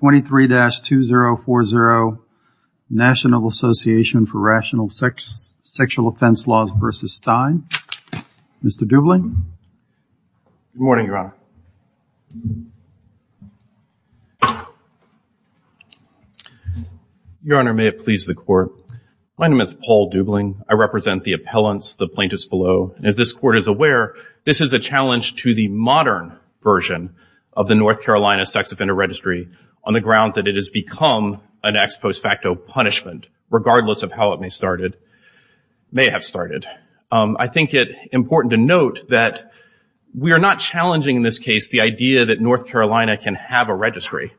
23-2040 National Association for Rational Sexual Offense Laws v. Stein Mr. Dubling? Good morning, Your Honor. Your Honor, may it please the Court. My name is Paul Dubling. I represent the appellants, the plaintiffs below. As this Court is aware, this is a challenge to the modern version of the North Carolina Sex Offender Registry on the grounds that it has become an ex post facto punishment, regardless of how it may have started. I think it's important to note that we are not challenging in this case the idea that North Carolina can have a registry.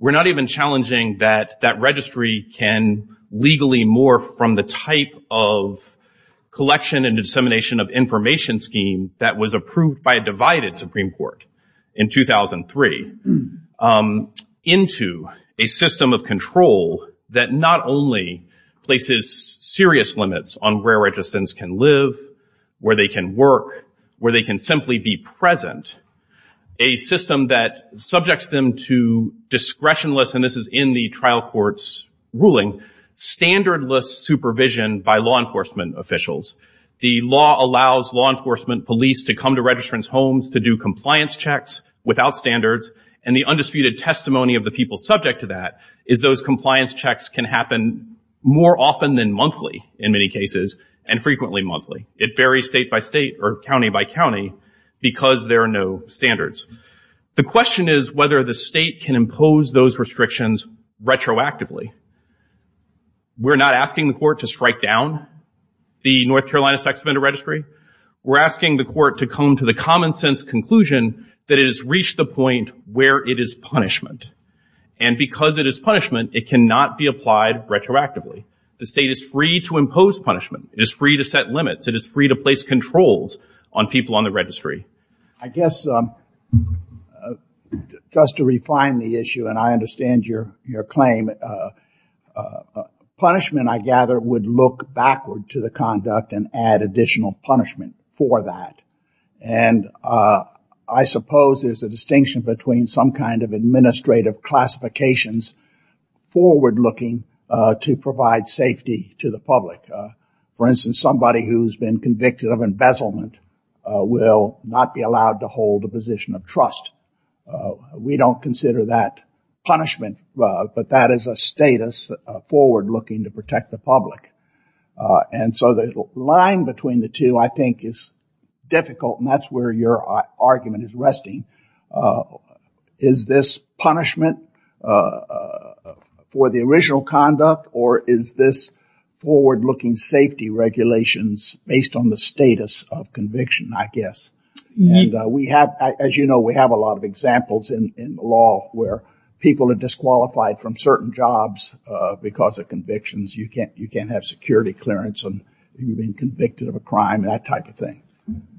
We're not even challenging that that registry can legally morph from the type of collection and dissemination of information scheme that was approved by a divided Supreme Court in 2003 into a system of control that not only places serious limits on where registrants can live, where they can work, where they can simply be present, a system that subjects them to discretionless, and this is in the trial court's ruling, standardless supervision by law enforcement officials. The law allows law enforcement police to come to registrants' homes to do compliance checks without standards, and the undisputed testimony of the people subject to that is those compliance checks can happen more often than monthly, in many cases, and frequently monthly. It varies state by state or county by county because there are no standards. The question is whether the state can impose those restrictions retroactively. We're not asking the Court to strike down the North Carolina Sex Offender Registry. We're asking the Court to come to the common sense conclusion that it has reached the point where it is punishment, and because it is punishment, it cannot be applied retroactively. The state is free to impose punishment. It is free to set limits. It is free to place controls on people on the registry. I guess just to refine the issue, and I understand your claim, punishment, I gather, would look backward to the conduct and add additional punishment for that, and I suppose there's a distinction between some kind of administrative classifications forward-looking to provide safety to the public. For instance, somebody who's been convicted of embezzlement will not be allowed to hold a position of trust. We don't consider that punishment, but that is a status forward-looking to protect the public, and so the line between the two, I think, is difficult, and that's where your argument is resting. Is this punishment for the original conduct, or is this forward-looking safety regulations based on the status of conviction, I guess? As you know, we have a lot of examples in the law where people are disqualified from certain jobs because of convictions. You can't have security clearance on you being convicted of a crime, that type of thing.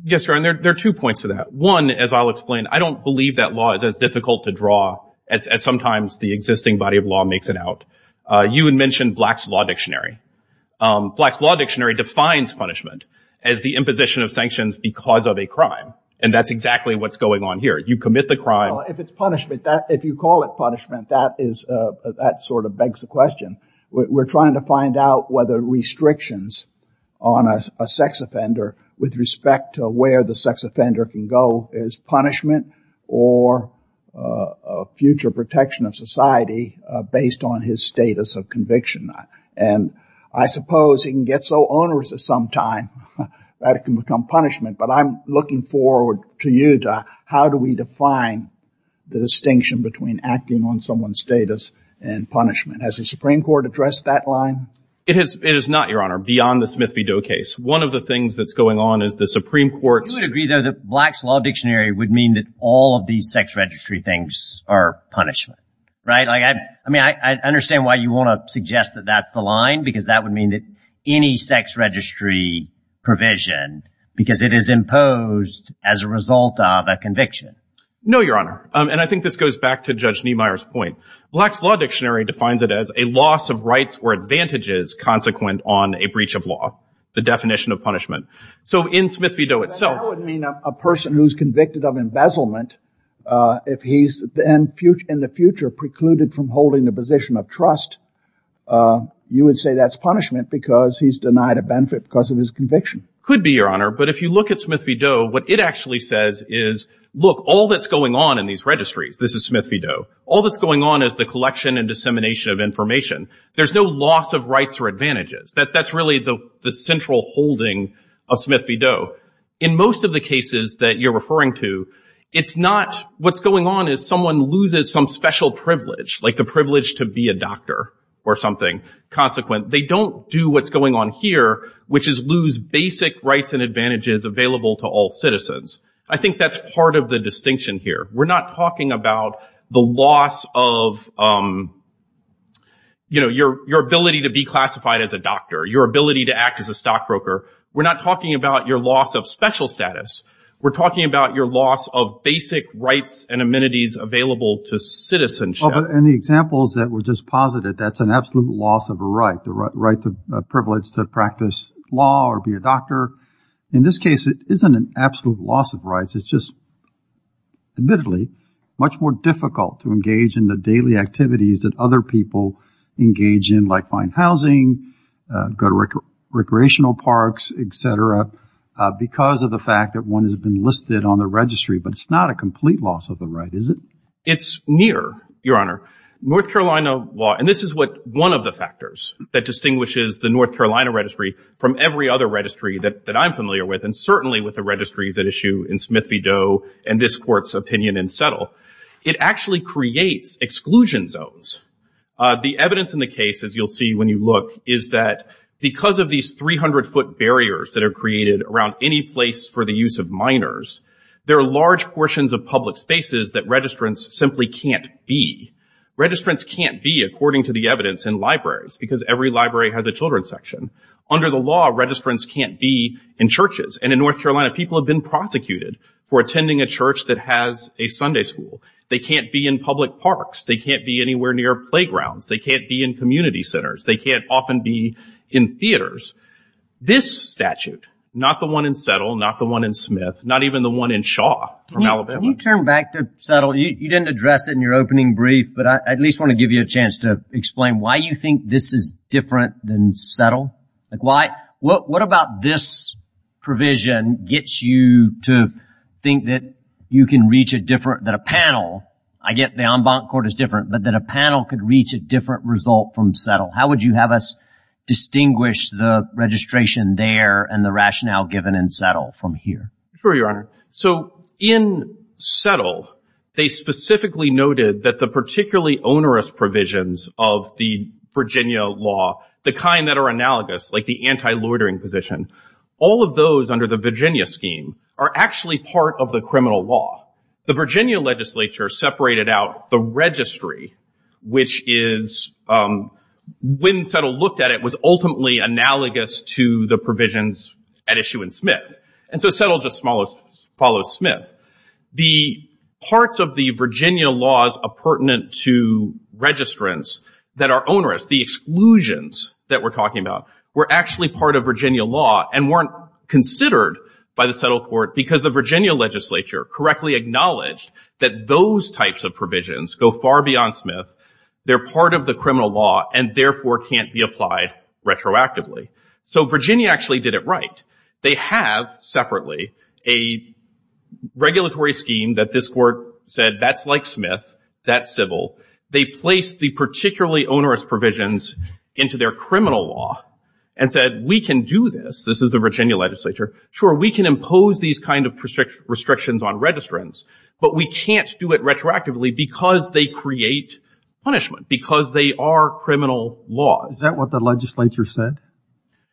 Yes, Your Honor, there are two points to that. One, as I'll explain, I don't believe that law is as difficult to draw as sometimes the existing body of law makes it out. You had mentioned Black's Law Dictionary. Black's Law Dictionary defines punishment as the imposition of sanctions because of a crime, and that's exactly what's going on here. You commit the crime... Well, if it's punishment, if you call it punishment, that sort of begs the question. We're trying to find out whether restrictions on a sex offender with respect to where the sex offender can go is punishment or a future protection of society based on his status of conviction, and I suppose he can get so how do we define the distinction between acting on someone's status and punishment? Has the Supreme Court addressed that line? It is not, Your Honor, beyond the Smith v. Doe case. One of the things that's going on is the Supreme Court's... You would agree, though, that Black's Law Dictionary would mean that all of these sex registry things are punishment, right? I mean, I understand why you want to suggest that that's the line because that would mean that any sex registry provision, because it is imposed as a result of a conviction. No, Your Honor, and I think this goes back to Judge Niemeyer's point. Black's Law Dictionary defines it as a loss of rights or advantages consequent on a breach of law, the definition of punishment. So in Smith v. Doe itself... That would mean a person who's convicted of embezzlement, if he's in the future precluded from holding a position of trust, you would say that's punishment because he's denied a benefit because of his conviction. Could be, Your Honor, but if you look at Smith v. Doe, what it actually says is, look, all that's going on in these registries, this is Smith v. Doe, all that's going on is the collection and dissemination of information. There's no loss of rights or advantages. That's really the central holding of Smith v. Doe. In most of the cases that you're referring to, it's not... What's going on is someone loses some special privilege, like the basic rights and advantages available to all citizens. I think that's part of the distinction here. We're not talking about the loss of your ability to be classified as a doctor, your ability to act as a stockbroker. We're not talking about your loss of special status. We're talking about your loss of basic rights and amenities available to citizenship. And the examples that were just posited, that's an absolute loss of a right, the right to practice law or be a doctor. In this case, it isn't an absolute loss of rights. It's just, admittedly, much more difficult to engage in the daily activities that other people engage in, like buying housing, go to recreational parks, et cetera, because of the fact that one has been listed on the registry. But it's not a complete loss of the right, is it? It's near, Your Honor. North Carolina law, and this is one of the factors that distinguishes the North Carolina registry from every other registry that I'm familiar with, and certainly with the registries at issue in Smith v. Doe and this Court's opinion in Settle, it actually creates exclusion zones. The evidence in the case, as you'll see when you look, is that because of these 300-foot barriers that are created around any place for the use of minors, there are large portions of public spaces that registrants simply can't be. Registrants can't be, according to the section. Under the law, registrants can't be in churches. And in North Carolina, people have been prosecuted for attending a church that has a Sunday school. They can't be in public parks. They can't be anywhere near playgrounds. They can't be in community centers. They can't often be in theaters. This statute, not the one in Settle, not the one in Smith, not even the one in Shaw from Alabama. Can you turn back to Settle? You didn't address it in your opening brief, but I at least want to give you a chance to settle. What about this provision gets you to think that you can reach a different, that a panel, I get the en banc court is different, but that a panel could reach a different result from Settle? How would you have us distinguish the registration there and the rationale given in Settle from here? Sure, Your Honor. So in Settle, they specifically noted that the particularly onerous provisions of the Virginia law, the kind that are analogous, like the anti-loitering position, all of those under the Virginia scheme are actually part of the criminal law. The Virginia legislature separated out the registry, which is, when Settle looked at it, was ultimately analogous to the provisions at issue in Smith. And so Settle just follows Smith. The parts of the Virginia laws pertinent to registrants that are onerous, the exclusions that we're talking about, were actually part of Virginia law and weren't considered by the Settle court because the Virginia legislature correctly acknowledged that those types of provisions go far beyond Smith. They're part of the criminal law and therefore can't be applied retroactively. So Virginia actually did it right. They have separately a regulatory scheme that this court said, that's like Smith, that's civil. They placed the particularly onerous provisions into their criminal law and said, we can do this. This is the Virginia legislature. Sure, we can impose these kinds of restrictions on registrants, but we can't do it retroactively because they create punishment, because they are criminal law. Is that what the legislature said?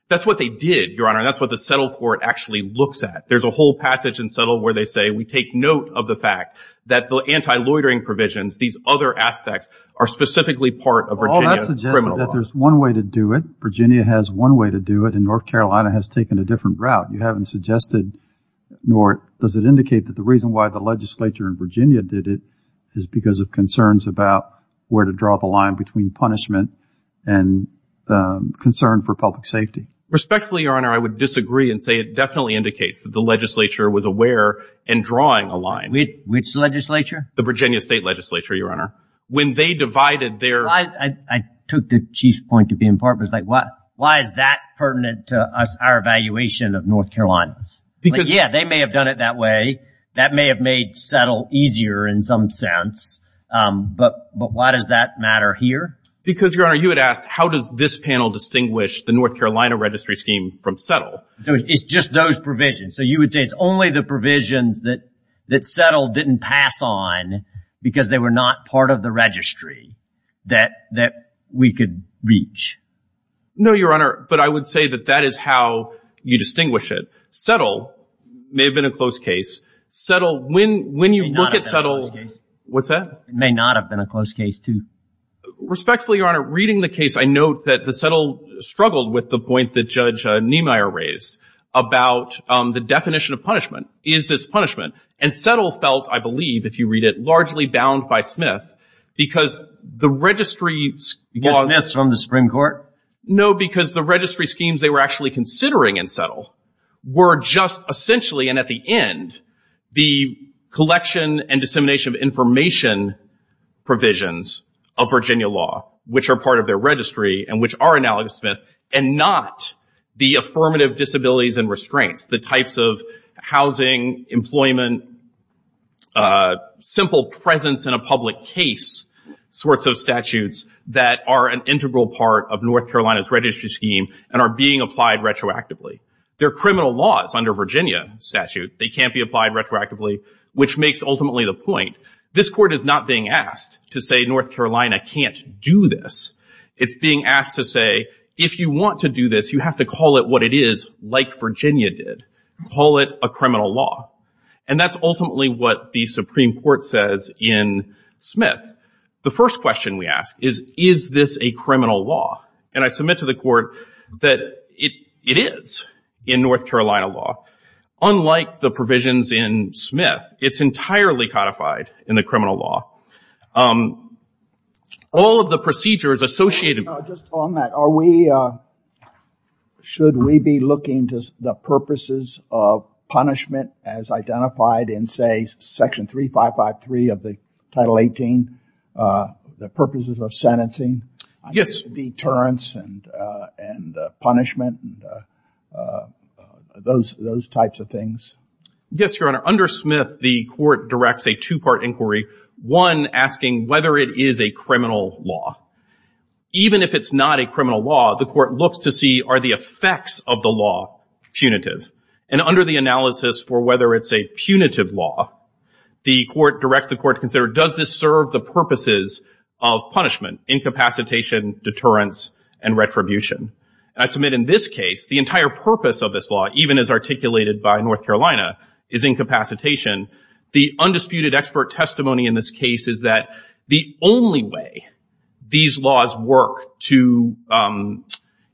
That's what they did, Your Honor. That's what the Settle court actually looks at. There's a whole passage in Settle where they say, we take note of the fact that the anti-loitering provisions, these other aspects, are specifically part of Virginia criminal law. All that suggests that there's one way to do it. Virginia has one way to do it, and North Carolina has taken a different route. You haven't suggested, nor does it indicate that the reason why the legislature in Virginia did it is because of concerns about where to draw the line between punishment and concern for public safety. Respectfully, Your Honor, I would disagree and say it definitely indicates that the legislature was aware and drawing a line. Which legislature? The Virginia State Legislature, Your Honor. When they divided their- I took the Chief's point to be in part, but it's like, why is that pertinent to us, our evaluation of North Carolina? Because- Um, but why does that matter here? Because, Your Honor, you had asked, how does this panel distinguish the North Carolina registry scheme from Settle? It's just those provisions. So you would say it's only the provisions that Settle didn't pass on because they were not part of the registry that we could reach. No, Your Honor, but I would say that that is how you distinguish it. Settle may have been a close case. Settle, when you look at Settle- What's that? May not have been a close case, too. Respectfully, Your Honor, reading the case, I note that Settle struggled with the point that Judge Niemeyer raised about the definition of punishment. Is this punishment? And Settle felt, I believe, if you read it, largely bound by Smith because the registry- Because Smith's from the Supreme Court? No, because the registry schemes they were actually considering in Settle were just essentially, and at the end, the collection and dissemination of information provisions of Virginia law, which are part of their registry and which are analogous to Smith, and not the affirmative disabilities and restraints, the types of housing, employment, simple presence in a public case sorts of statutes that are an integral part of North Carolina's registry scheme and are being applied retroactively. They're criminal laws under Virginia statute. They can't be applied retroactively, which makes ultimately the point. This Court is not being asked to say North Carolina can't do this. It's being asked to say, if you want to do this, you have to call it what it is, like Virginia did. Call it a criminal law. And that's ultimately what the Supreme Court says in Smith. The first question we ask is, is this a criminal law? And I submit to the Court that it is in North Carolina law. Unlike the provisions in Smith, it's entirely codified in the criminal law. All of the procedures associated- Just on that, are we, should we be looking to the purposes of punishment as identified in, say, Section 3553 of the Title 18, the purposes of sentencing? Yes. Deterrence and punishment, those types of things. Yes, Your Honor. Under Smith, the Court directs a two-part inquiry, one asking whether it is a criminal law. Even if it's not a criminal law, the Court looks to see, are the effects of the law punitive? And under the analysis for whether it's a punitive law, the Court directs the Court to consider, does this serve the purposes of punishment, incapacitation, deterrence, and retribution? And I submit in this case, the entire purpose of this law, even as articulated by North Carolina, is incapacitation. The undisputed expert testimony in this case is that the only way these laws work to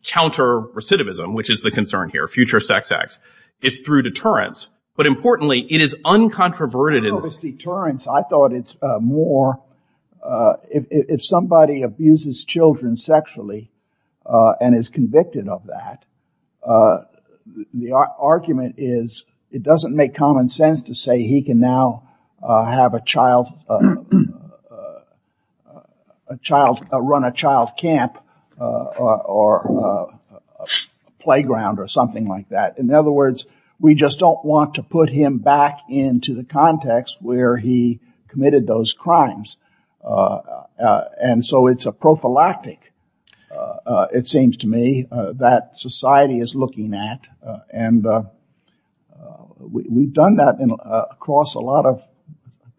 counter recidivism, which is the concern here, future sex acts, is through deterrence. But importantly, it is uncontroverted in- thought it's more, if somebody abuses children sexually and is convicted of that, the argument is, it doesn't make common sense to say he can now run a child camp or a playground or something like that. In other words, we just don't want to put him back into the context where he committed those crimes. And so it's a prophylactic, it seems to me, that society is looking at. And we've done that across a lot of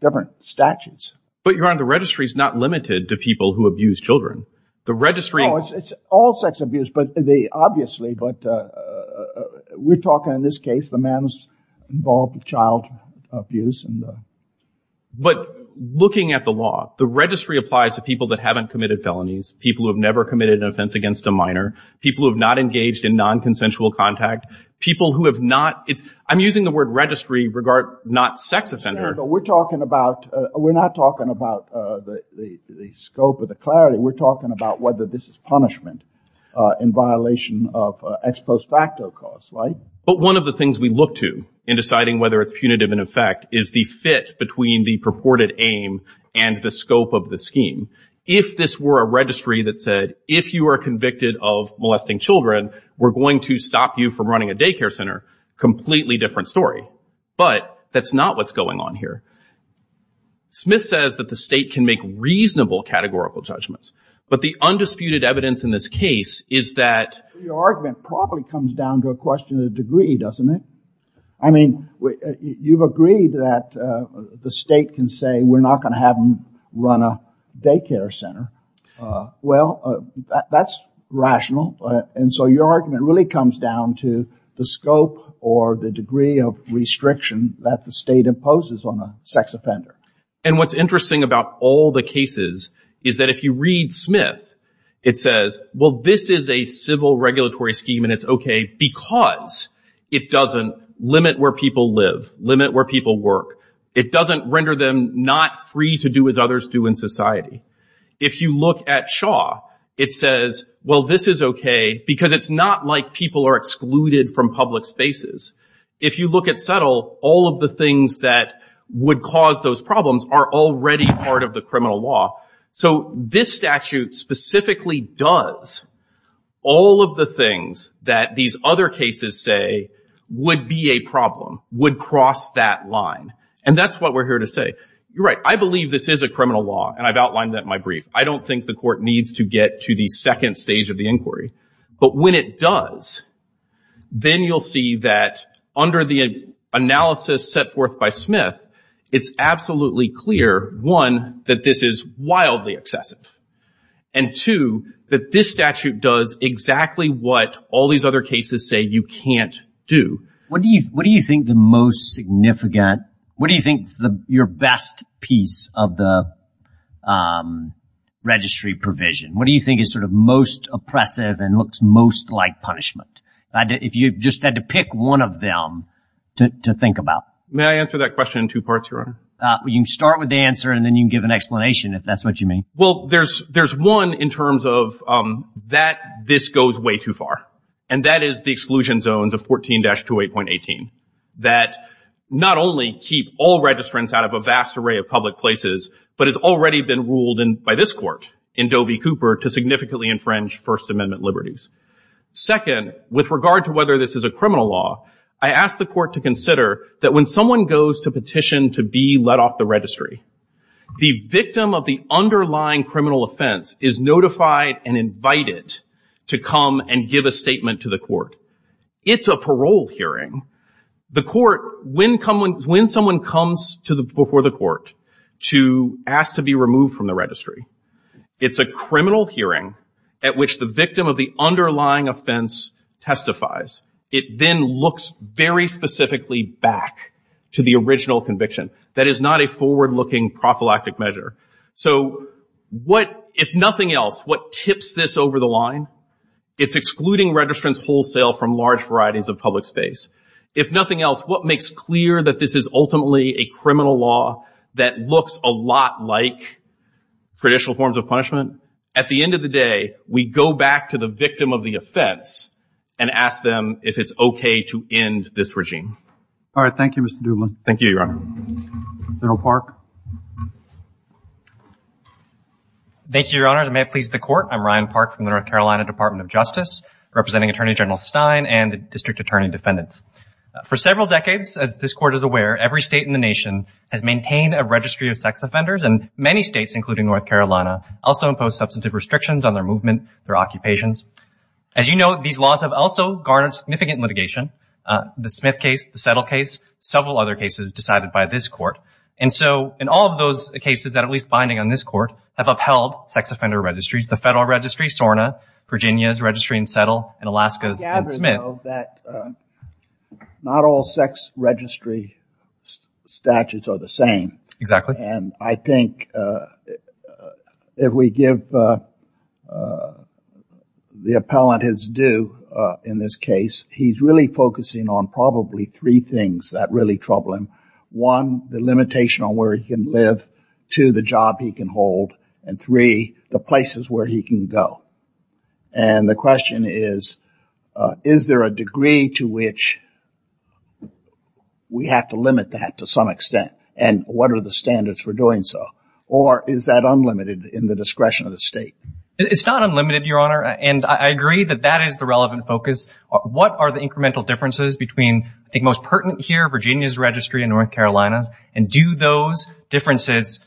different statutes. But Your Honor, the registry is not limited to people who abuse children. The registry- Oh, it's all sex abuse, obviously. But we're talking in this case, the man's involved with child abuse. But looking at the law, the registry applies to people that haven't committed felonies, people who have never committed an offense against a minor, people who have not engaged in non-consensual contact, people who have not- I'm using the word registry, not sex offender. We're talking about- we're not talking about the scope of the clarity. We're talking about whether this is punishment in violation of ex post facto cause, right? But one of the things we look to in deciding whether it's punitive in effect is the fit between the purported aim and the scope of the scheme. If this were a registry that said, if you are convicted of molesting children, we're going to stop you from running a daycare center, completely different story. But that's not what's going on here. Smith says that the state can make reasonable categorical judgments. But the undisputed evidence in this case is that- I mean, you've agreed that the state can say, we're not going to have them run a daycare center. Well, that's rational. And so your argument really comes down to the scope or the degree of restriction that the state imposes on a sex offender. And what's interesting about all the cases is that if you read Smith, it says, well, this is a civil regulatory scheme and it's okay because it doesn't limit where people live, limit where people work. It doesn't render them not free to do as others do in society. If you look at Shaw, it says, well, this is okay because it's not like people are excluded from public spaces. If you look at Settle, all of the things that would cause those problems are already part of the criminal law. So this statute specifically does all of the things that these other cases say would be a problem, would cross that line. And that's what we're here to say. You're right. I believe this is a criminal law, and I've outlined that in my brief. I don't think the court needs to get to the second stage of the inquiry. But when it does, then you'll see that under the analysis set forth by Smith, it's absolutely clear, one, that this is wildly excessive. And two, that this statute does exactly what all these other cases say you can't do. What do you think the most significant, what do you think is your best piece of the registry provision? What do you think is sort of most oppressive and looks most like punishment? If you just had to pick one of them to think about. May I answer that question in two parts, Your Honor? You can start with the answer, and then you can give an explanation, if that's what you mean. Well, there's one in terms of that this goes way too far. And that is the exclusion zones of 14-28.18 that not only keep all registrants out of a vast array of public places, but has already been ruled by this court in Doe v. Cooper to significantly infringe First Amendment liberties. Second, with regard to whether this is a criminal law, I ask the court to consider that when someone goes to petition to be let off the registry, the victim of the underlying criminal offense is notified and invited to come and give a statement to the court. It's a parole hearing. The court, when someone comes before the court to ask to be removed from the registry, it's a criminal hearing at which the victim of the underlying offense testifies. It then looks very specifically back to the original conviction. That is not a forward-looking prophylactic measure. So what, if nothing else, what tips this over the line? It's excluding registrants wholesale from large varieties of public space. If nothing else, what makes clear that this is ultimately a criminal law that looks a lot like traditional forms of punishment? At the end of the day, we go back to the victim of the offense and ask them if it's okay to end this regime. All right. Thank you, Mr. Dublin. Thank you, Your Honor. General Park. Thank you, Your Honors. May it please the Court. I'm Ryan Park from the North Carolina Department of Justice, representing Attorney General Stein and the District Attorney Defendant. For several decades, as this Court is aware, every state in the nation has maintained a registry of sex offenders, and many states, including North Carolina, also impose substantive restrictions on their movement, their occupations. As you know, these laws have also garnered significant litigation. The Smith case, the Settle case, several other cases decided by this Court. And so in all of those cases that are at least binding on this Court have upheld sex offender registries, the Federal Registry, SORNA, Virginia's registry in Settle, and Alaska's in Smith. Not all sex registry statutes are the same. Exactly. And I think if we give the appellant his due in this case, he's really focusing on probably three things that really trouble him. One, the limitation on where he can live. Two, the job he can hold. And three, the places where he can go. And the question is, is there a degree to which we have to limit that to some extent? And what are the standards for doing so? Or is that unlimited in the discretion of the state? It's not unlimited, Your Honor. And I agree that that is the relevant focus. What are the incremental differences between, I think, most pertinent here, Virginia's registry and North Carolina's? And do those differences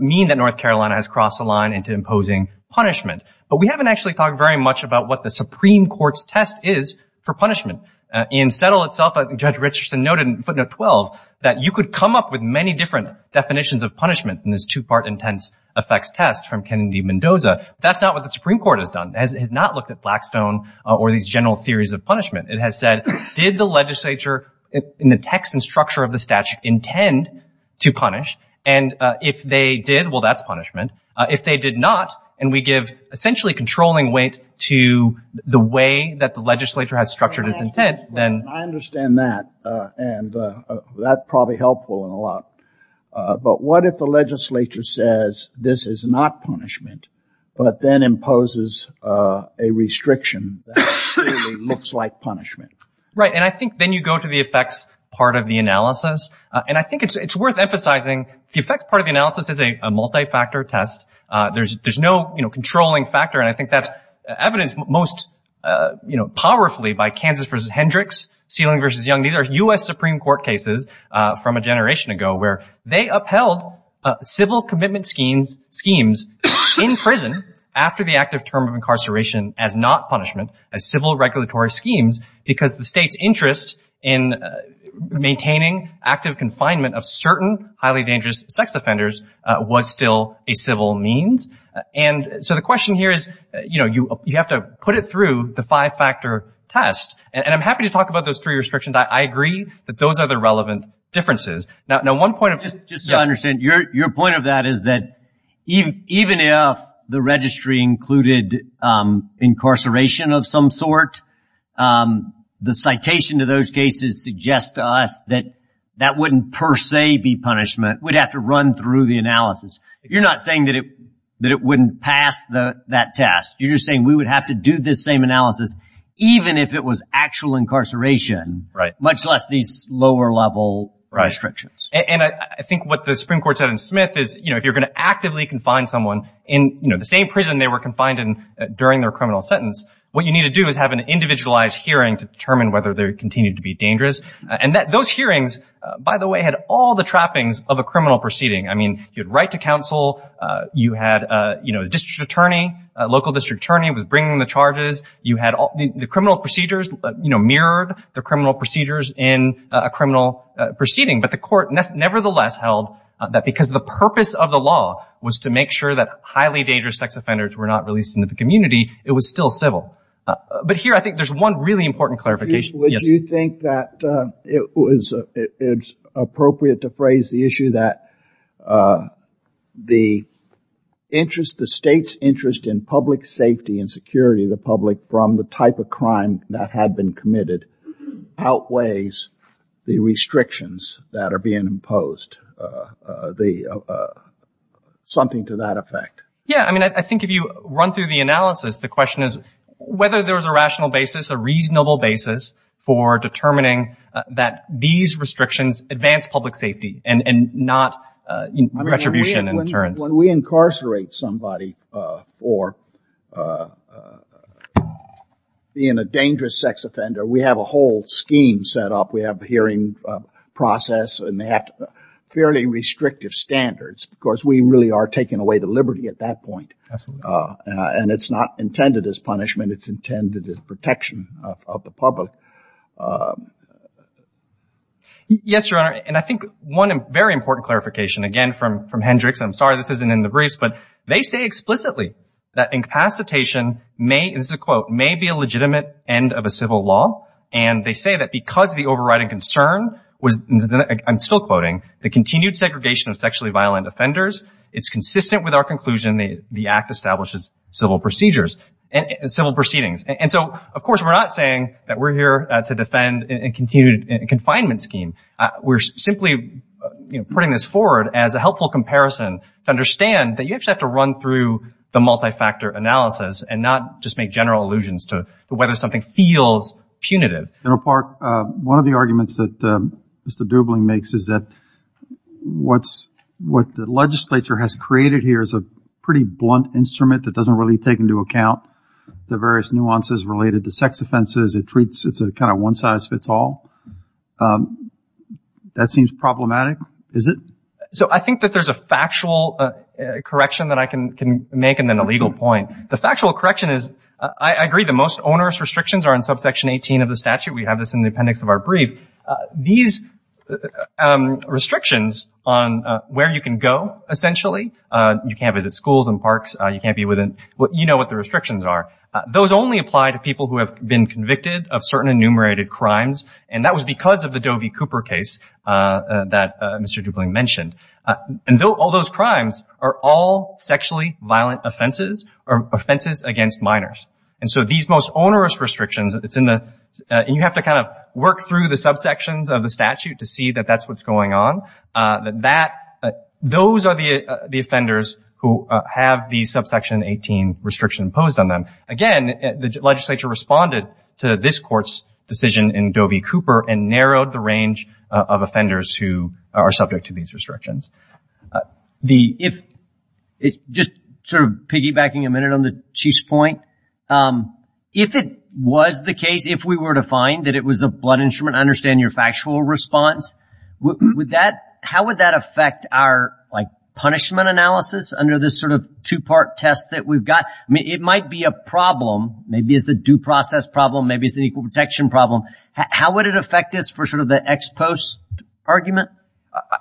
mean that North Carolina has crossed the line into imposing punishment? But we haven't actually talked very much about what the Supreme Court's test is for punishment. In Settle itself, Judge Richardson noted in footnote 12 that you could come up with many different definitions of punishment in this two-part intense effects test from Kennedy-Mendoza. That's not what the Supreme Court has done. It has not looked at Blackstone or these general theories of punishment. It has said, did the legislature, in the text and structure of the statute, intend to punish? And if they did, well, that's punishment. If they did not, and we give essentially controlling weight to the way that the legislature has structured its intent, then— that's probably helpful in a lot. But what if the legislature says this is not punishment, but then imposes a restriction that looks like punishment? Right. And I think then you go to the effects part of the analysis. And I think it's worth emphasizing the effects part of the analysis is a multi-factor test. There's no controlling factor. And I think that's evidenced most powerfully by Kansas v. Hendricks, Sealing v. Young. These are U.S. Supreme Court cases from a generation ago where they upheld civil commitment schemes in prison after the active term of incarceration as not punishment, as civil regulatory schemes, because the state's interest in maintaining active confinement of certain highly dangerous sex offenders was still a civil means. And so the question here is, you know, you have to put it through the five-factor test. And I'm happy to talk about those three restrictions. I agree that those are the relevant differences. Now, one point of— Just to understand, your point of that is that even if the registry included incarceration of some sort, the citation to those cases suggest to us that that wouldn't per se be punishment. We'd have to run through the analysis. You're not saying that it wouldn't pass that test. You're just saying we would have to do this same analysis even if it was actual incarceration, much less these lower-level restrictions. And I think what the Supreme Court said in Smith is, you know, if you're going to actively confine someone in, you know, the same prison they were confined in during their criminal sentence, what you need to do is have an individualized hearing to determine whether they're continuing to be dangerous. And those hearings, by the way, had all the trappings of a criminal proceeding. I mean, you had right to counsel. You had, you know, a district attorney, a local district attorney was bringing the charges. The criminal procedures, you know, mirrored the criminal procedures in a criminal proceeding. But the court nevertheless held that because the purpose of the law was to make sure that highly dangerous sex offenders were not released into the community, it was still civil. But here, I think there's one really important clarification. Would you think that it's appropriate to phrase the issue that the interest, the state's interest in public safety and security, the public from the type of crime that had been committed outweighs the restrictions that are being imposed? Something to that effect. Yeah, I mean, I think if you run through the analysis, the question is whether there was a rational basis, a reasonable basis for determining that these restrictions advance public safety and not retribution and deterrence. When we incarcerate somebody for being a dangerous sex offender, we have a whole scheme set up. We have a hearing process and they have fairly restrictive standards. Of course, we really are taking away the liberty at that point. And it's not intended as punishment. It's intended as protection of the public. Yes, Your Honor. And I think one very important clarification, again, from Hendricks, I'm sorry this isn't in the briefs, but they say explicitly that incapacitation may, this is a quote, may be a legitimate end of a civil law. And they say that because the overriding concern was, I'm still quoting, the continued segregation of sexually violent offenders, it's consistent with our conclusion the Act establishes civil procedures, and civil proceedings. And so, of course, we're not saying that we're here to defend a continued confinement scheme. We're simply putting this forward as a helpful comparison to understand that you actually have to run through the multi-factor analysis and not just make general allusions to whether something feels punitive. General Park, one of the arguments that Mr. Dubling makes is that what the legislature has created here is a pretty blunt instrument that doesn't really take into account the various nuances related to sex offenses. It treats, it's a kind of one size fits all. That seems problematic, is it? So I think that there's a factual correction that I can make and then a legal point. The factual correction is, I agree, the most onerous restrictions are in subsection 18 of the statute. We have this in the appendix of our brief. These restrictions on where you can go, essentially, you can't visit schools and parks, you can't be within, you know what the restrictions are. Those only apply to people who have been convicted of certain enumerated crimes. And that was because of the Doe v. Cooper case that Mr. Dubling mentioned. All those crimes are all sexually violent offenses or offenses against minors. And so these most onerous restrictions, it's in the, you have to kind of work through the subsections of the statute to see that that's what's going on. Those are the offenders who have the subsection 18 restriction imposed on them. Again, the legislature responded to this court's decision in Doe v. Cooper and narrowed the range of offenders who are subject to these restrictions. The, if, it's just sort of piggybacking a minute on the Chief's point. If it was the case, if we were to find that it was a blood instrument, I understand your factual response, would that, how would that affect our, like, punishment analysis under this sort of two-part test that we've got? It might be a problem. Maybe it's a due process problem. Maybe it's an equal protection problem. How would it affect this for sort of the ex post argument?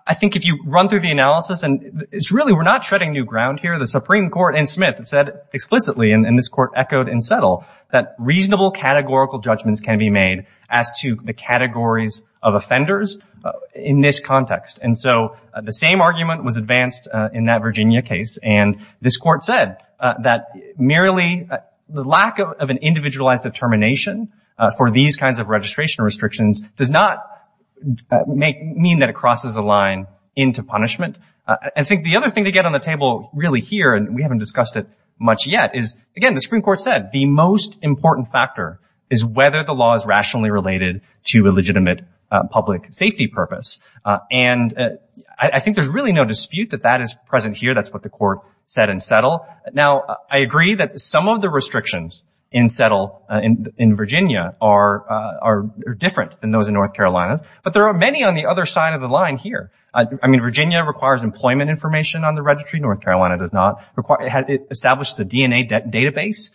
I think if you run through the analysis and it's really, we're not treading new ground here. The Supreme Court and Smith said explicitly, and this court echoed and settled, that reasonable categorical judgments can be made as to the categories of offenders in this context. And so the same argument was advanced in that Virginia case. And this court said that merely the lack of an individualized determination for these kinds of registration restrictions does not make, mean that it crosses the line into punishment. I think the other thing to get on the table really here, and we haven't discussed it much yet, is, again, the Supreme Court said, the most important factor is whether the law is rationally related to a legitimate public safety purpose. And I think there's really no dispute that that is present here. That's what the court said in settle. Now, I agree that some of the restrictions in settle in Virginia are different than those in North Carolina. But there are many on the other side of the line here. I mean, Virginia requires employment information on the registry. North Carolina does not. It establishes a DNA database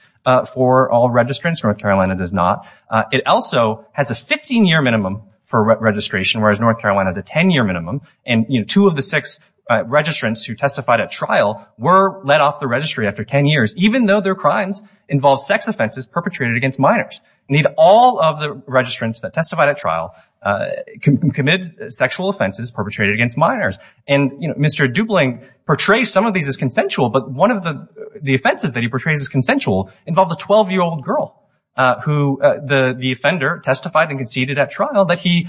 for all registrants. North Carolina does not. It also has a 15-year minimum for registration, whereas North Carolina has a 10-year minimum. And two of the six registrants who testified at trial were let off the registry after 10 years, even though their crimes involve sex offenses perpetrated against minors. Need all of the registrants that testified at trial commit sexual offenses perpetrated against minors. And Mr. Dubling portrays some of these as consensual, but one of the offenses that he portrays as consensual involved a 12-year-old girl who the offender testified and conceded at trial that he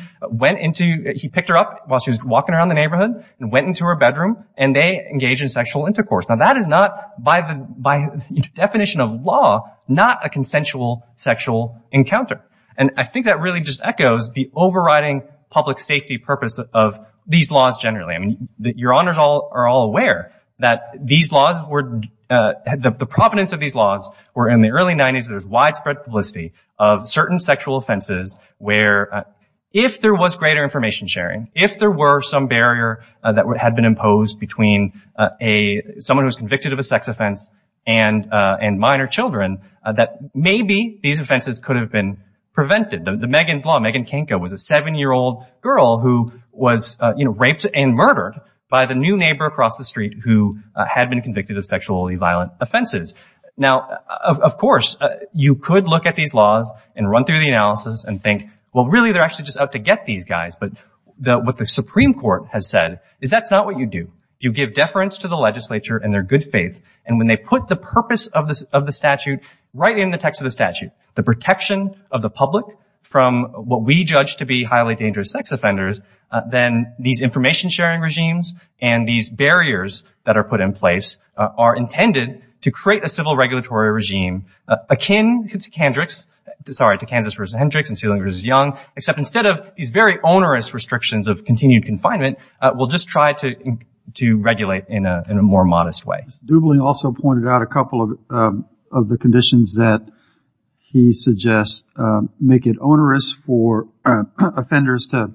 picked her up while she was walking around the neighborhood and went into her bedroom, and they engaged in sexual intercourse. Now, that is not, by the definition of law, not a consensual sexual encounter. And I think that really just echoes the overriding public safety purpose of these laws generally. I mean, your honors are all aware that the provenance of these laws were in the early 90s. There was widespread publicity of certain sexual offenses where if there was greater information sharing, if there were some barrier that had been imposed between someone who was convicted of a sex offense and minor children, that maybe these offenses could have been prevented. The Megan's Law, Megan Kanko was a 7-year-old girl who was raped and murdered by the new neighbor across the street who had been convicted of sexually violent offenses. Now, of course, you could look at these laws and run through the analysis and think, well, really, they're actually just out to get these guys. But what the Supreme Court has said is that's not what you do. You give deference to the legislature and their good faith. And when they put the purpose of the statute right in the text of the statute, the protection of the public from what we judge to be highly dangerous sex offenders, then these information sharing regimes and these barriers that are put in place are intended to create a civil regulatory regime akin to Kansas v. Hendricks and Sealing v. Young, except instead of these very onerous restrictions of continued confinement, we'll just try to regulate in a more modest way. Mr. Dubling also pointed out a couple of the conditions that he suggests make it onerous for offenders to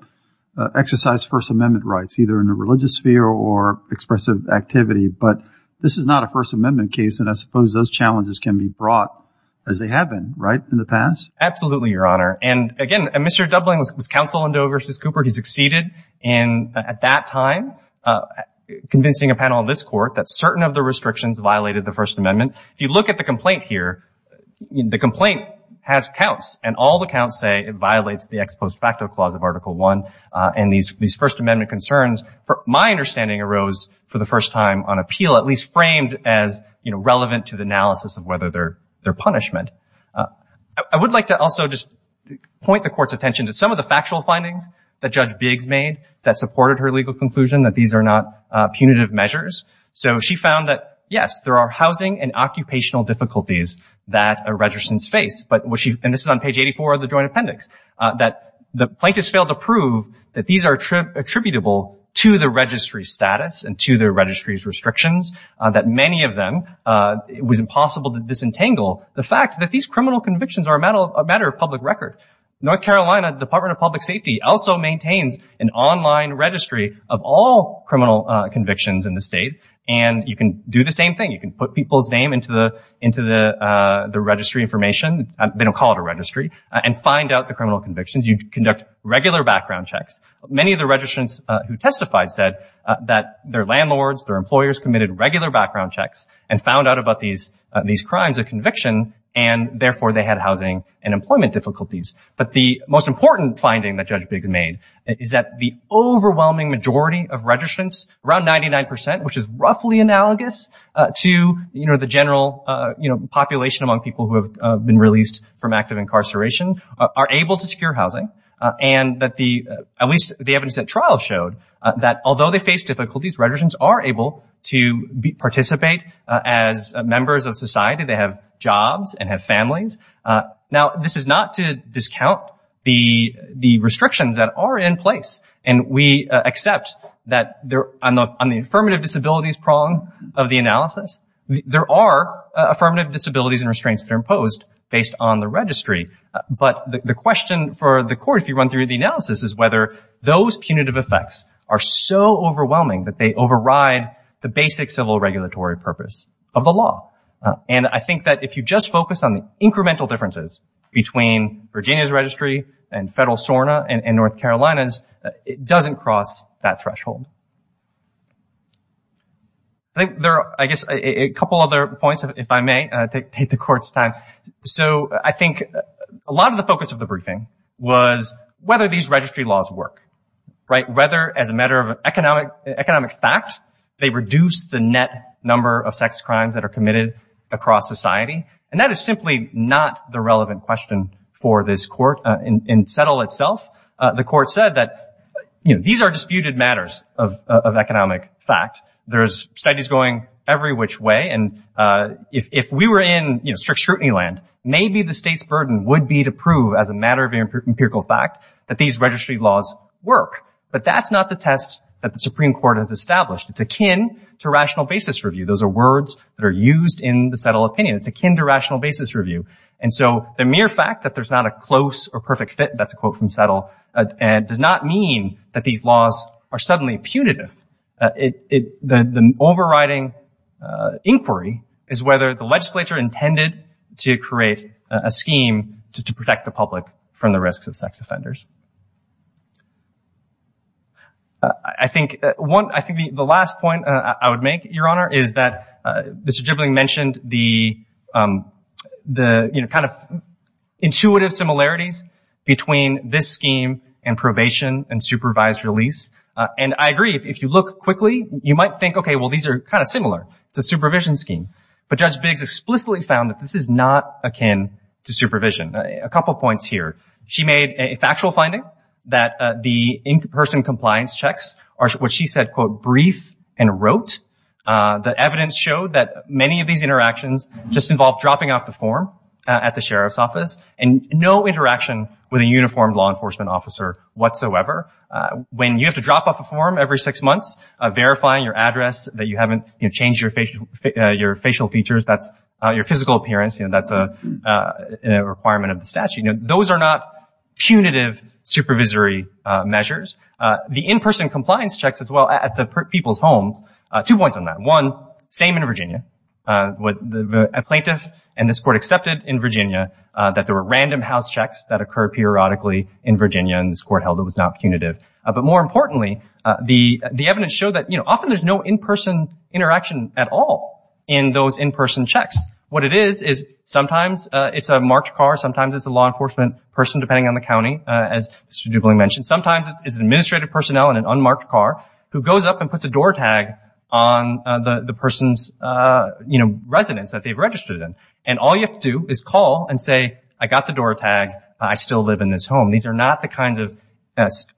exercise First Amendment rights, either in a religious sphere or expressive activity. But this is not a First Amendment case, and I suppose those challenges can be brought as they have been, right, in the past? Absolutely, Your Honor. And again, Mr. Dubling was counsel in Doe v. Cooper. He succeeded in, at that time, convincing a panel in this court that certain of the restrictions violated the First Amendment. If you look at the complaint here, the complaint has counts, and all the counts say it violates the ex post facto clause of Article I and these First Amendment concerns, my understanding arose for the first time on appeal, at least framed as relevant to the analysis of whether they're punishment. I would like to also just point the court's attention to some of the factual findings that Judge Biggs made that supported her legal conclusion that these are not punitive measures. So she found that, yes, there are housing and occupational difficulties that a registrant's face, and this is on page 84 of the joint appendix, that the plaintiffs failed to prove that these are attributable to the registry status and to the registry's restrictions, that many of them, it was impossible to disentangle the fact that these criminal convictions are a matter of public record. North Carolina Department of Public Safety also maintains an online registry of all criminal convictions in the state, and you can do the same thing. You can put people's name into the registry information, they don't call it a registry, and find out the criminal convictions. You conduct regular background checks. Many of the registrants who testified said that their landlords, their employers committed regular background checks and found out about these crimes of conviction, and therefore they had housing and employment difficulties. But the most important finding that Judge Biggs made is that the overwhelming majority of registrants, around 99%, which is roughly analogous to the general population among people who have been released from active incarceration, are able to secure housing, and at least the evidence at trial showed that although they face difficulties, registrants are able to participate as members of society. They have jobs and have families. Now, this is not to discount the restrictions that are in place, and we accept that on the affirmative disabilities prong of the analysis, there are affirmative disabilities and restraints that are imposed based on the registry, but the question for the court, if you run through the analysis, is whether those punitive effects are so overwhelming that they override the basic civil regulatory purpose of the law. And I think that if you just focus on the incremental differences between Virginia's registry and federal SORNA and North Carolina's, it doesn't cross that threshold. I think there are, I guess, a couple other points, if I may, to take the court's time. So I think a lot of the focus of the briefing was whether these registry laws work, right? Whether, as a matter of economic fact, they reduce the net number of sex crimes that are committed across society, and that is simply not the relevant question for this court in settle itself. The court said that these are disputed matters of economic fact. There's studies going every which way, and if we were in strict scrutiny land, maybe the state's burden would be to prove, as a matter of empirical fact, that these registry laws work. But that's not the test that the Supreme Court has established. It's akin to rational basis review. Those are words that are used in the settle opinion. It's akin to rational basis review. And so the mere fact that there's not a close or perfect fit, that's a quote from settle, does not mean that these laws are suddenly punitive. It, the overriding inquiry is whether the legislature intended to create a scheme to protect the public from the risks of sex offenders. I think one, I think the last point I would make, Your Honor, is that Mr. Gibling mentioned the, you know, kind of intuitive similarities between this scheme and probation and supervised release. And I agree, if you look quickly, you might think, okay, well, these are kind of similar. It's a supervision scheme. But Judge Biggs explicitly found that this is not akin to supervision. A couple points here. She made a factual finding that the in-person compliance checks are what she said, quote, brief and rote. The evidence showed that many of these interactions just involve dropping off the form at the sheriff's office and no interaction with a uniformed law enforcement officer whatsoever. When you have to drop off a form every six months, verifying your address that you haven't, you know, changed your facial features, that's your physical appearance, you know, that's a requirement of the statute. Those are not punitive supervisory measures. The in-person compliance checks as well at the people's homes, two points on that. One, same in Virginia. A plaintiff in this court accepted in Virginia that there were random house checks that occur periodically in Virginia and this court held it was not punitive. But more importantly, the evidence showed that, you know, often there's no in-person interaction at all in those in-person checks. What it is, is sometimes it's a marked car. Sometimes it's a law enforcement person, depending on the county, as Mr. Dubling mentioned. Sometimes it's administrative personnel in an unmarked car who goes up and puts a door tag on the person's, you know, residence that they've registered in. And all you have to do is call and say, I got the door tag. I still live in this home. These are not the kinds of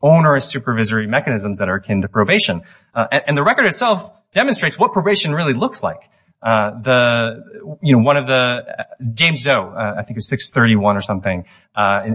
onerous supervisory mechanisms that are akin to probation. And the record itself demonstrates what probation really looks like. The, you know, one of the, James Doe, I think it was 631 or something,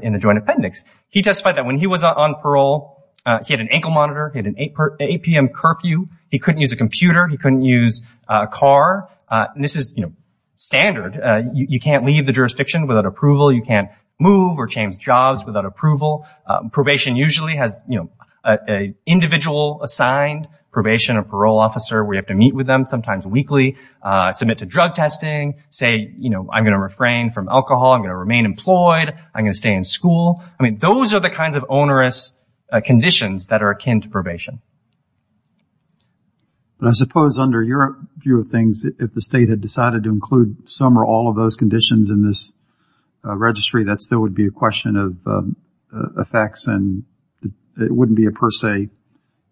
in the joint appendix. He testified that when he was on parole, he had an ankle monitor. He had an 8 p.m. curfew. He couldn't use a computer. He couldn't use a car. And this is, you know, standard. You can't leave the jurisdiction without approval. You can't move or change jobs without approval. Probation usually has, you know, an individual assigned probation or parole officer where you have to meet with them, sometimes weekly. Submit to drug testing. Say, you know, I'm going to refrain from alcohol. I'm going to remain employed. I'm going to stay in school. I mean, those are the kinds of onerous conditions that are akin to probation. But I suppose under your view of things, if the state had decided to include some or all of those conditions in this registry, that still would be a question of effects and it wouldn't be a per se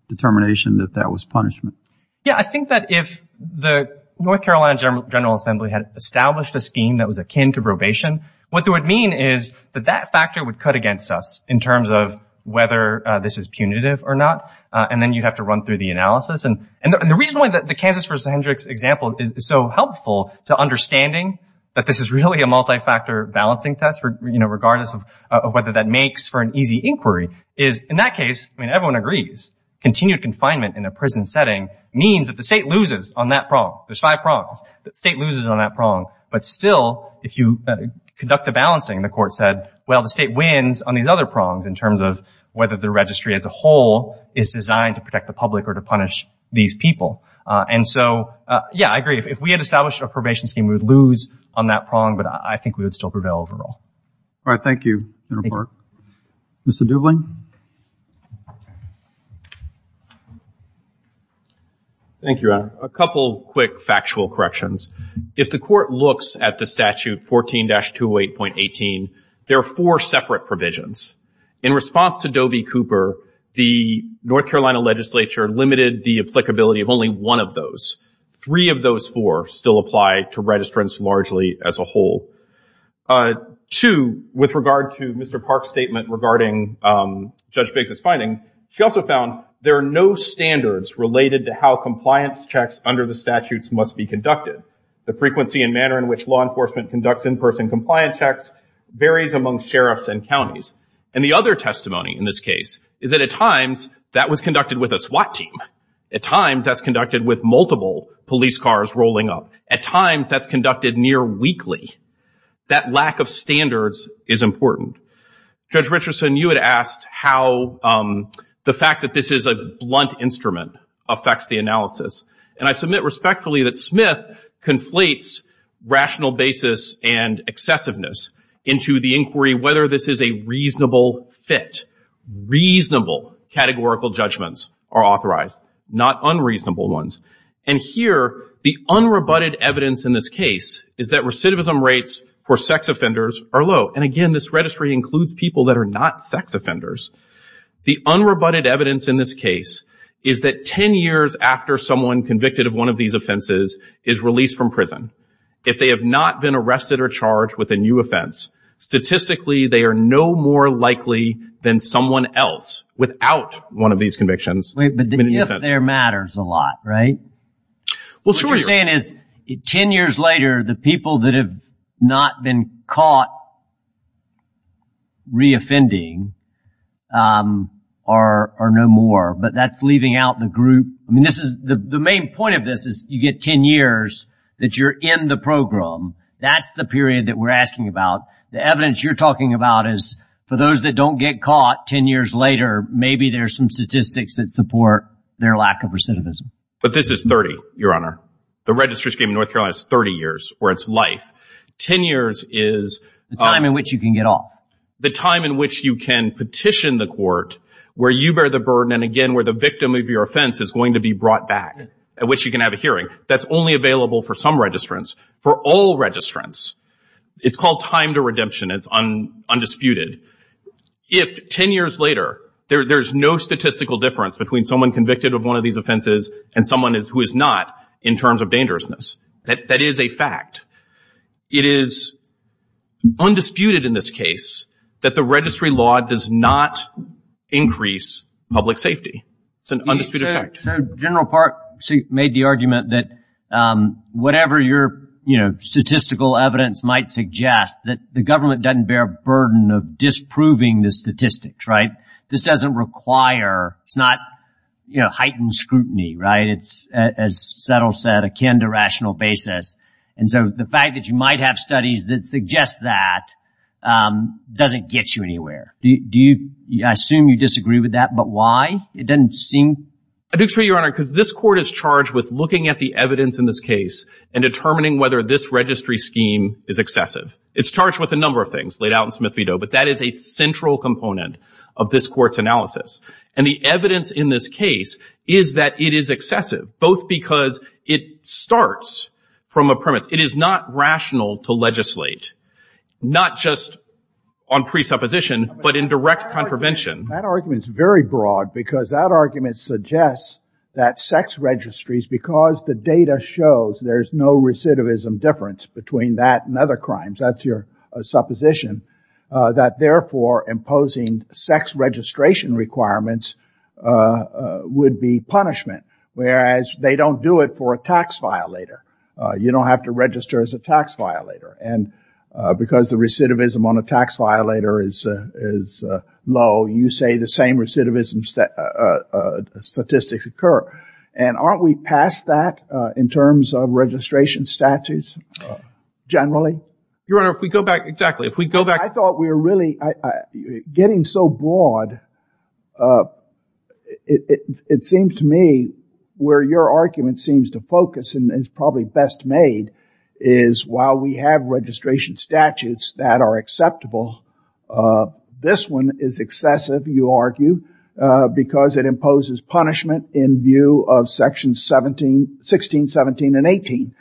determination that that was punishment. Yeah, I think that if the North Carolina General Assembly had established a scheme that was akin to probation, what that would mean is that that factor would cut against us in terms of whether this is punitive or not. And then you'd have to run through the analysis. And the reason why the Kansas v. Hendricks example is so helpful to understanding that this is really a multi-factor balancing test, regardless of whether that makes for an easy inquiry, is in that case, I mean, everyone agrees, continued confinement in a prison setting means that the state loses on that prong. There's five prongs. State loses on that prong. But still, if you conduct the balancing, the court said, well, the state wins on these other prongs in terms of whether the registry as a whole is designed to protect the public or to punish these people. And so, yeah, I agree. If we had established a probation scheme, we would lose on that prong, but I think we would still prevail overall. All right. Thank you, Mr. Park. Mr. Dubling. Thank you, Your Honor. A couple quick factual corrections. If the court looks at the statute 14-208.18, there are four separate provisions. In response to Doe v. Cooper, the North Carolina legislature limited the applicability of only one of those. Three of those four still apply to registrants largely as a whole. Two, with regard to Mr. Park's statement regarding Judge Biggs' finding, she also found there are no standards related to how compliance checks under the statutes must be conducted. The frequency and manner in which law enforcement conducts in-person compliance checks varies among sheriffs and counties. And the other testimony in this case is that at times that was conducted with a SWAT team. At times that's conducted with multiple police cars rolling up. At times that's conducted near weekly. That lack of standards is important. Judge Richardson, you had asked how the fact that this is a blunt instrument affects the analysis. And I submit respectfully that Smith conflates rational basis and excessiveness into the inquiry whether this is a reasonable fit. Reasonable categorical judgments are authorized, not unreasonable ones. And here, the unrebutted evidence in this case is that recidivism rates for sex offenders are low. And again, this registry includes people that are not sex offenders. The unrebutted evidence in this case is that 10 years after someone convicted of one of these offenses is released from prison, if they have not been arrested or charged with a new offense, statistically they are no more likely than someone else without one of these convictions. Wait, but the if there matters a lot, right? What you're saying is 10 years later, the people that have not been caught re-offending are no more. But that's leaving out the group. I mean, this is the main point of this is you get 10 years that you're in the program. That's the period that we're asking about. The evidence you're talking about is for those that don't get caught 10 years later, maybe there's some statistics that support their lack of recidivism. But this is 30, Your Honor. The registry scheme in North Carolina is 30 years where it's life. 10 years is... The time in which you can get off. The time in which you can petition the court where you bear the burden. And again, where the victim of your offense is going to be brought back at which you can have a hearing. That's only available for some registrants. For all registrants, it's called time to redemption. It's undisputed. If 10 years later, there's no statistical difference between someone convicted of one of these offenses and someone who is not in terms of dangerousness, that is a fact. It is undisputed in this case that the registry law does not increase public safety. It's an undisputed fact. So General Park made the argument that whatever your statistical evidence might suggest that the government doesn't bear a burden of disproving the statistics, right? This doesn't require... It's not, you know, heightened scrutiny, right? It's, as Settle said, akin to rational basis. And so the fact that you might have studies that suggest that doesn't get you anywhere. I assume you disagree with that, but why? It doesn't seem... I do agree, Your Honor, because this court is charged with looking at the evidence in this case and determining whether this registry scheme is excessive. It's charged with a number of things laid out in Smith v. Doe, but that is a central component of this court's analysis. And the evidence in this case is that it is excessive, both because it starts from a premise. It is not rational to legislate, not just on presupposition, but in direct contravention. That argument is very broad because that argument suggests that sex registries, because the data shows there's no recidivism difference between that and other crimes, that's your supposition, that therefore imposing sex registration requirements would be punishment, whereas they don't do it for a tax violator. You don't have to register as a tax violator. And because the recidivism on a tax violator is low, you say the same recidivism statistics occur. And aren't we past that in terms of registration statutes generally? Your Honor, if we go back... Exactly. If we go back... I thought we were really... Getting so broad, it seems to me where your argument seems to focus and is probably best made is while we have registration statutes that are acceptable, this one is excessive, you argue, because it imposes punishment in view of section 16, 17, and 18.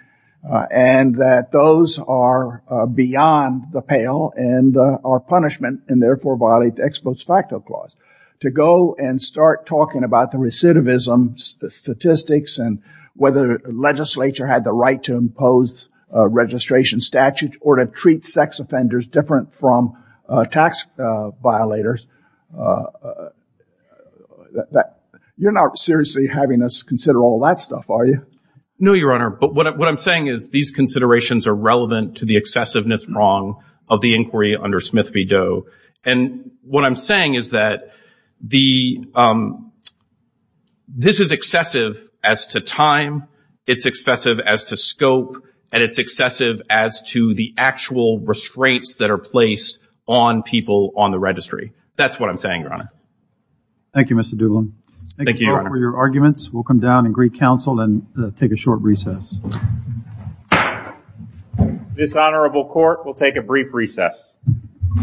And that those are beyond the pale and are punishment and therefore violate the ex post facto clause. To go and start talking about the recidivism statistics and whether legislature had the right to impose a registration statute or to treat sex offenders different from tax violators, you're not seriously having us consider all that stuff, are you? No, Your Honor. But what I'm saying is these considerations are relevant to the excessiveness wrong of the inquiry under Smith v. Doe. And what I'm saying is that this is excessive as to time, it's excessive as to scope, and it's excessive as to the actual restraints that are placed on people on the registry. That's what I'm saying, Your Honor. Thank you, Mr. Doolin. Thank you for your arguments. We'll come down and greet counsel and take a short recess. Dishonorable court will take a brief recess.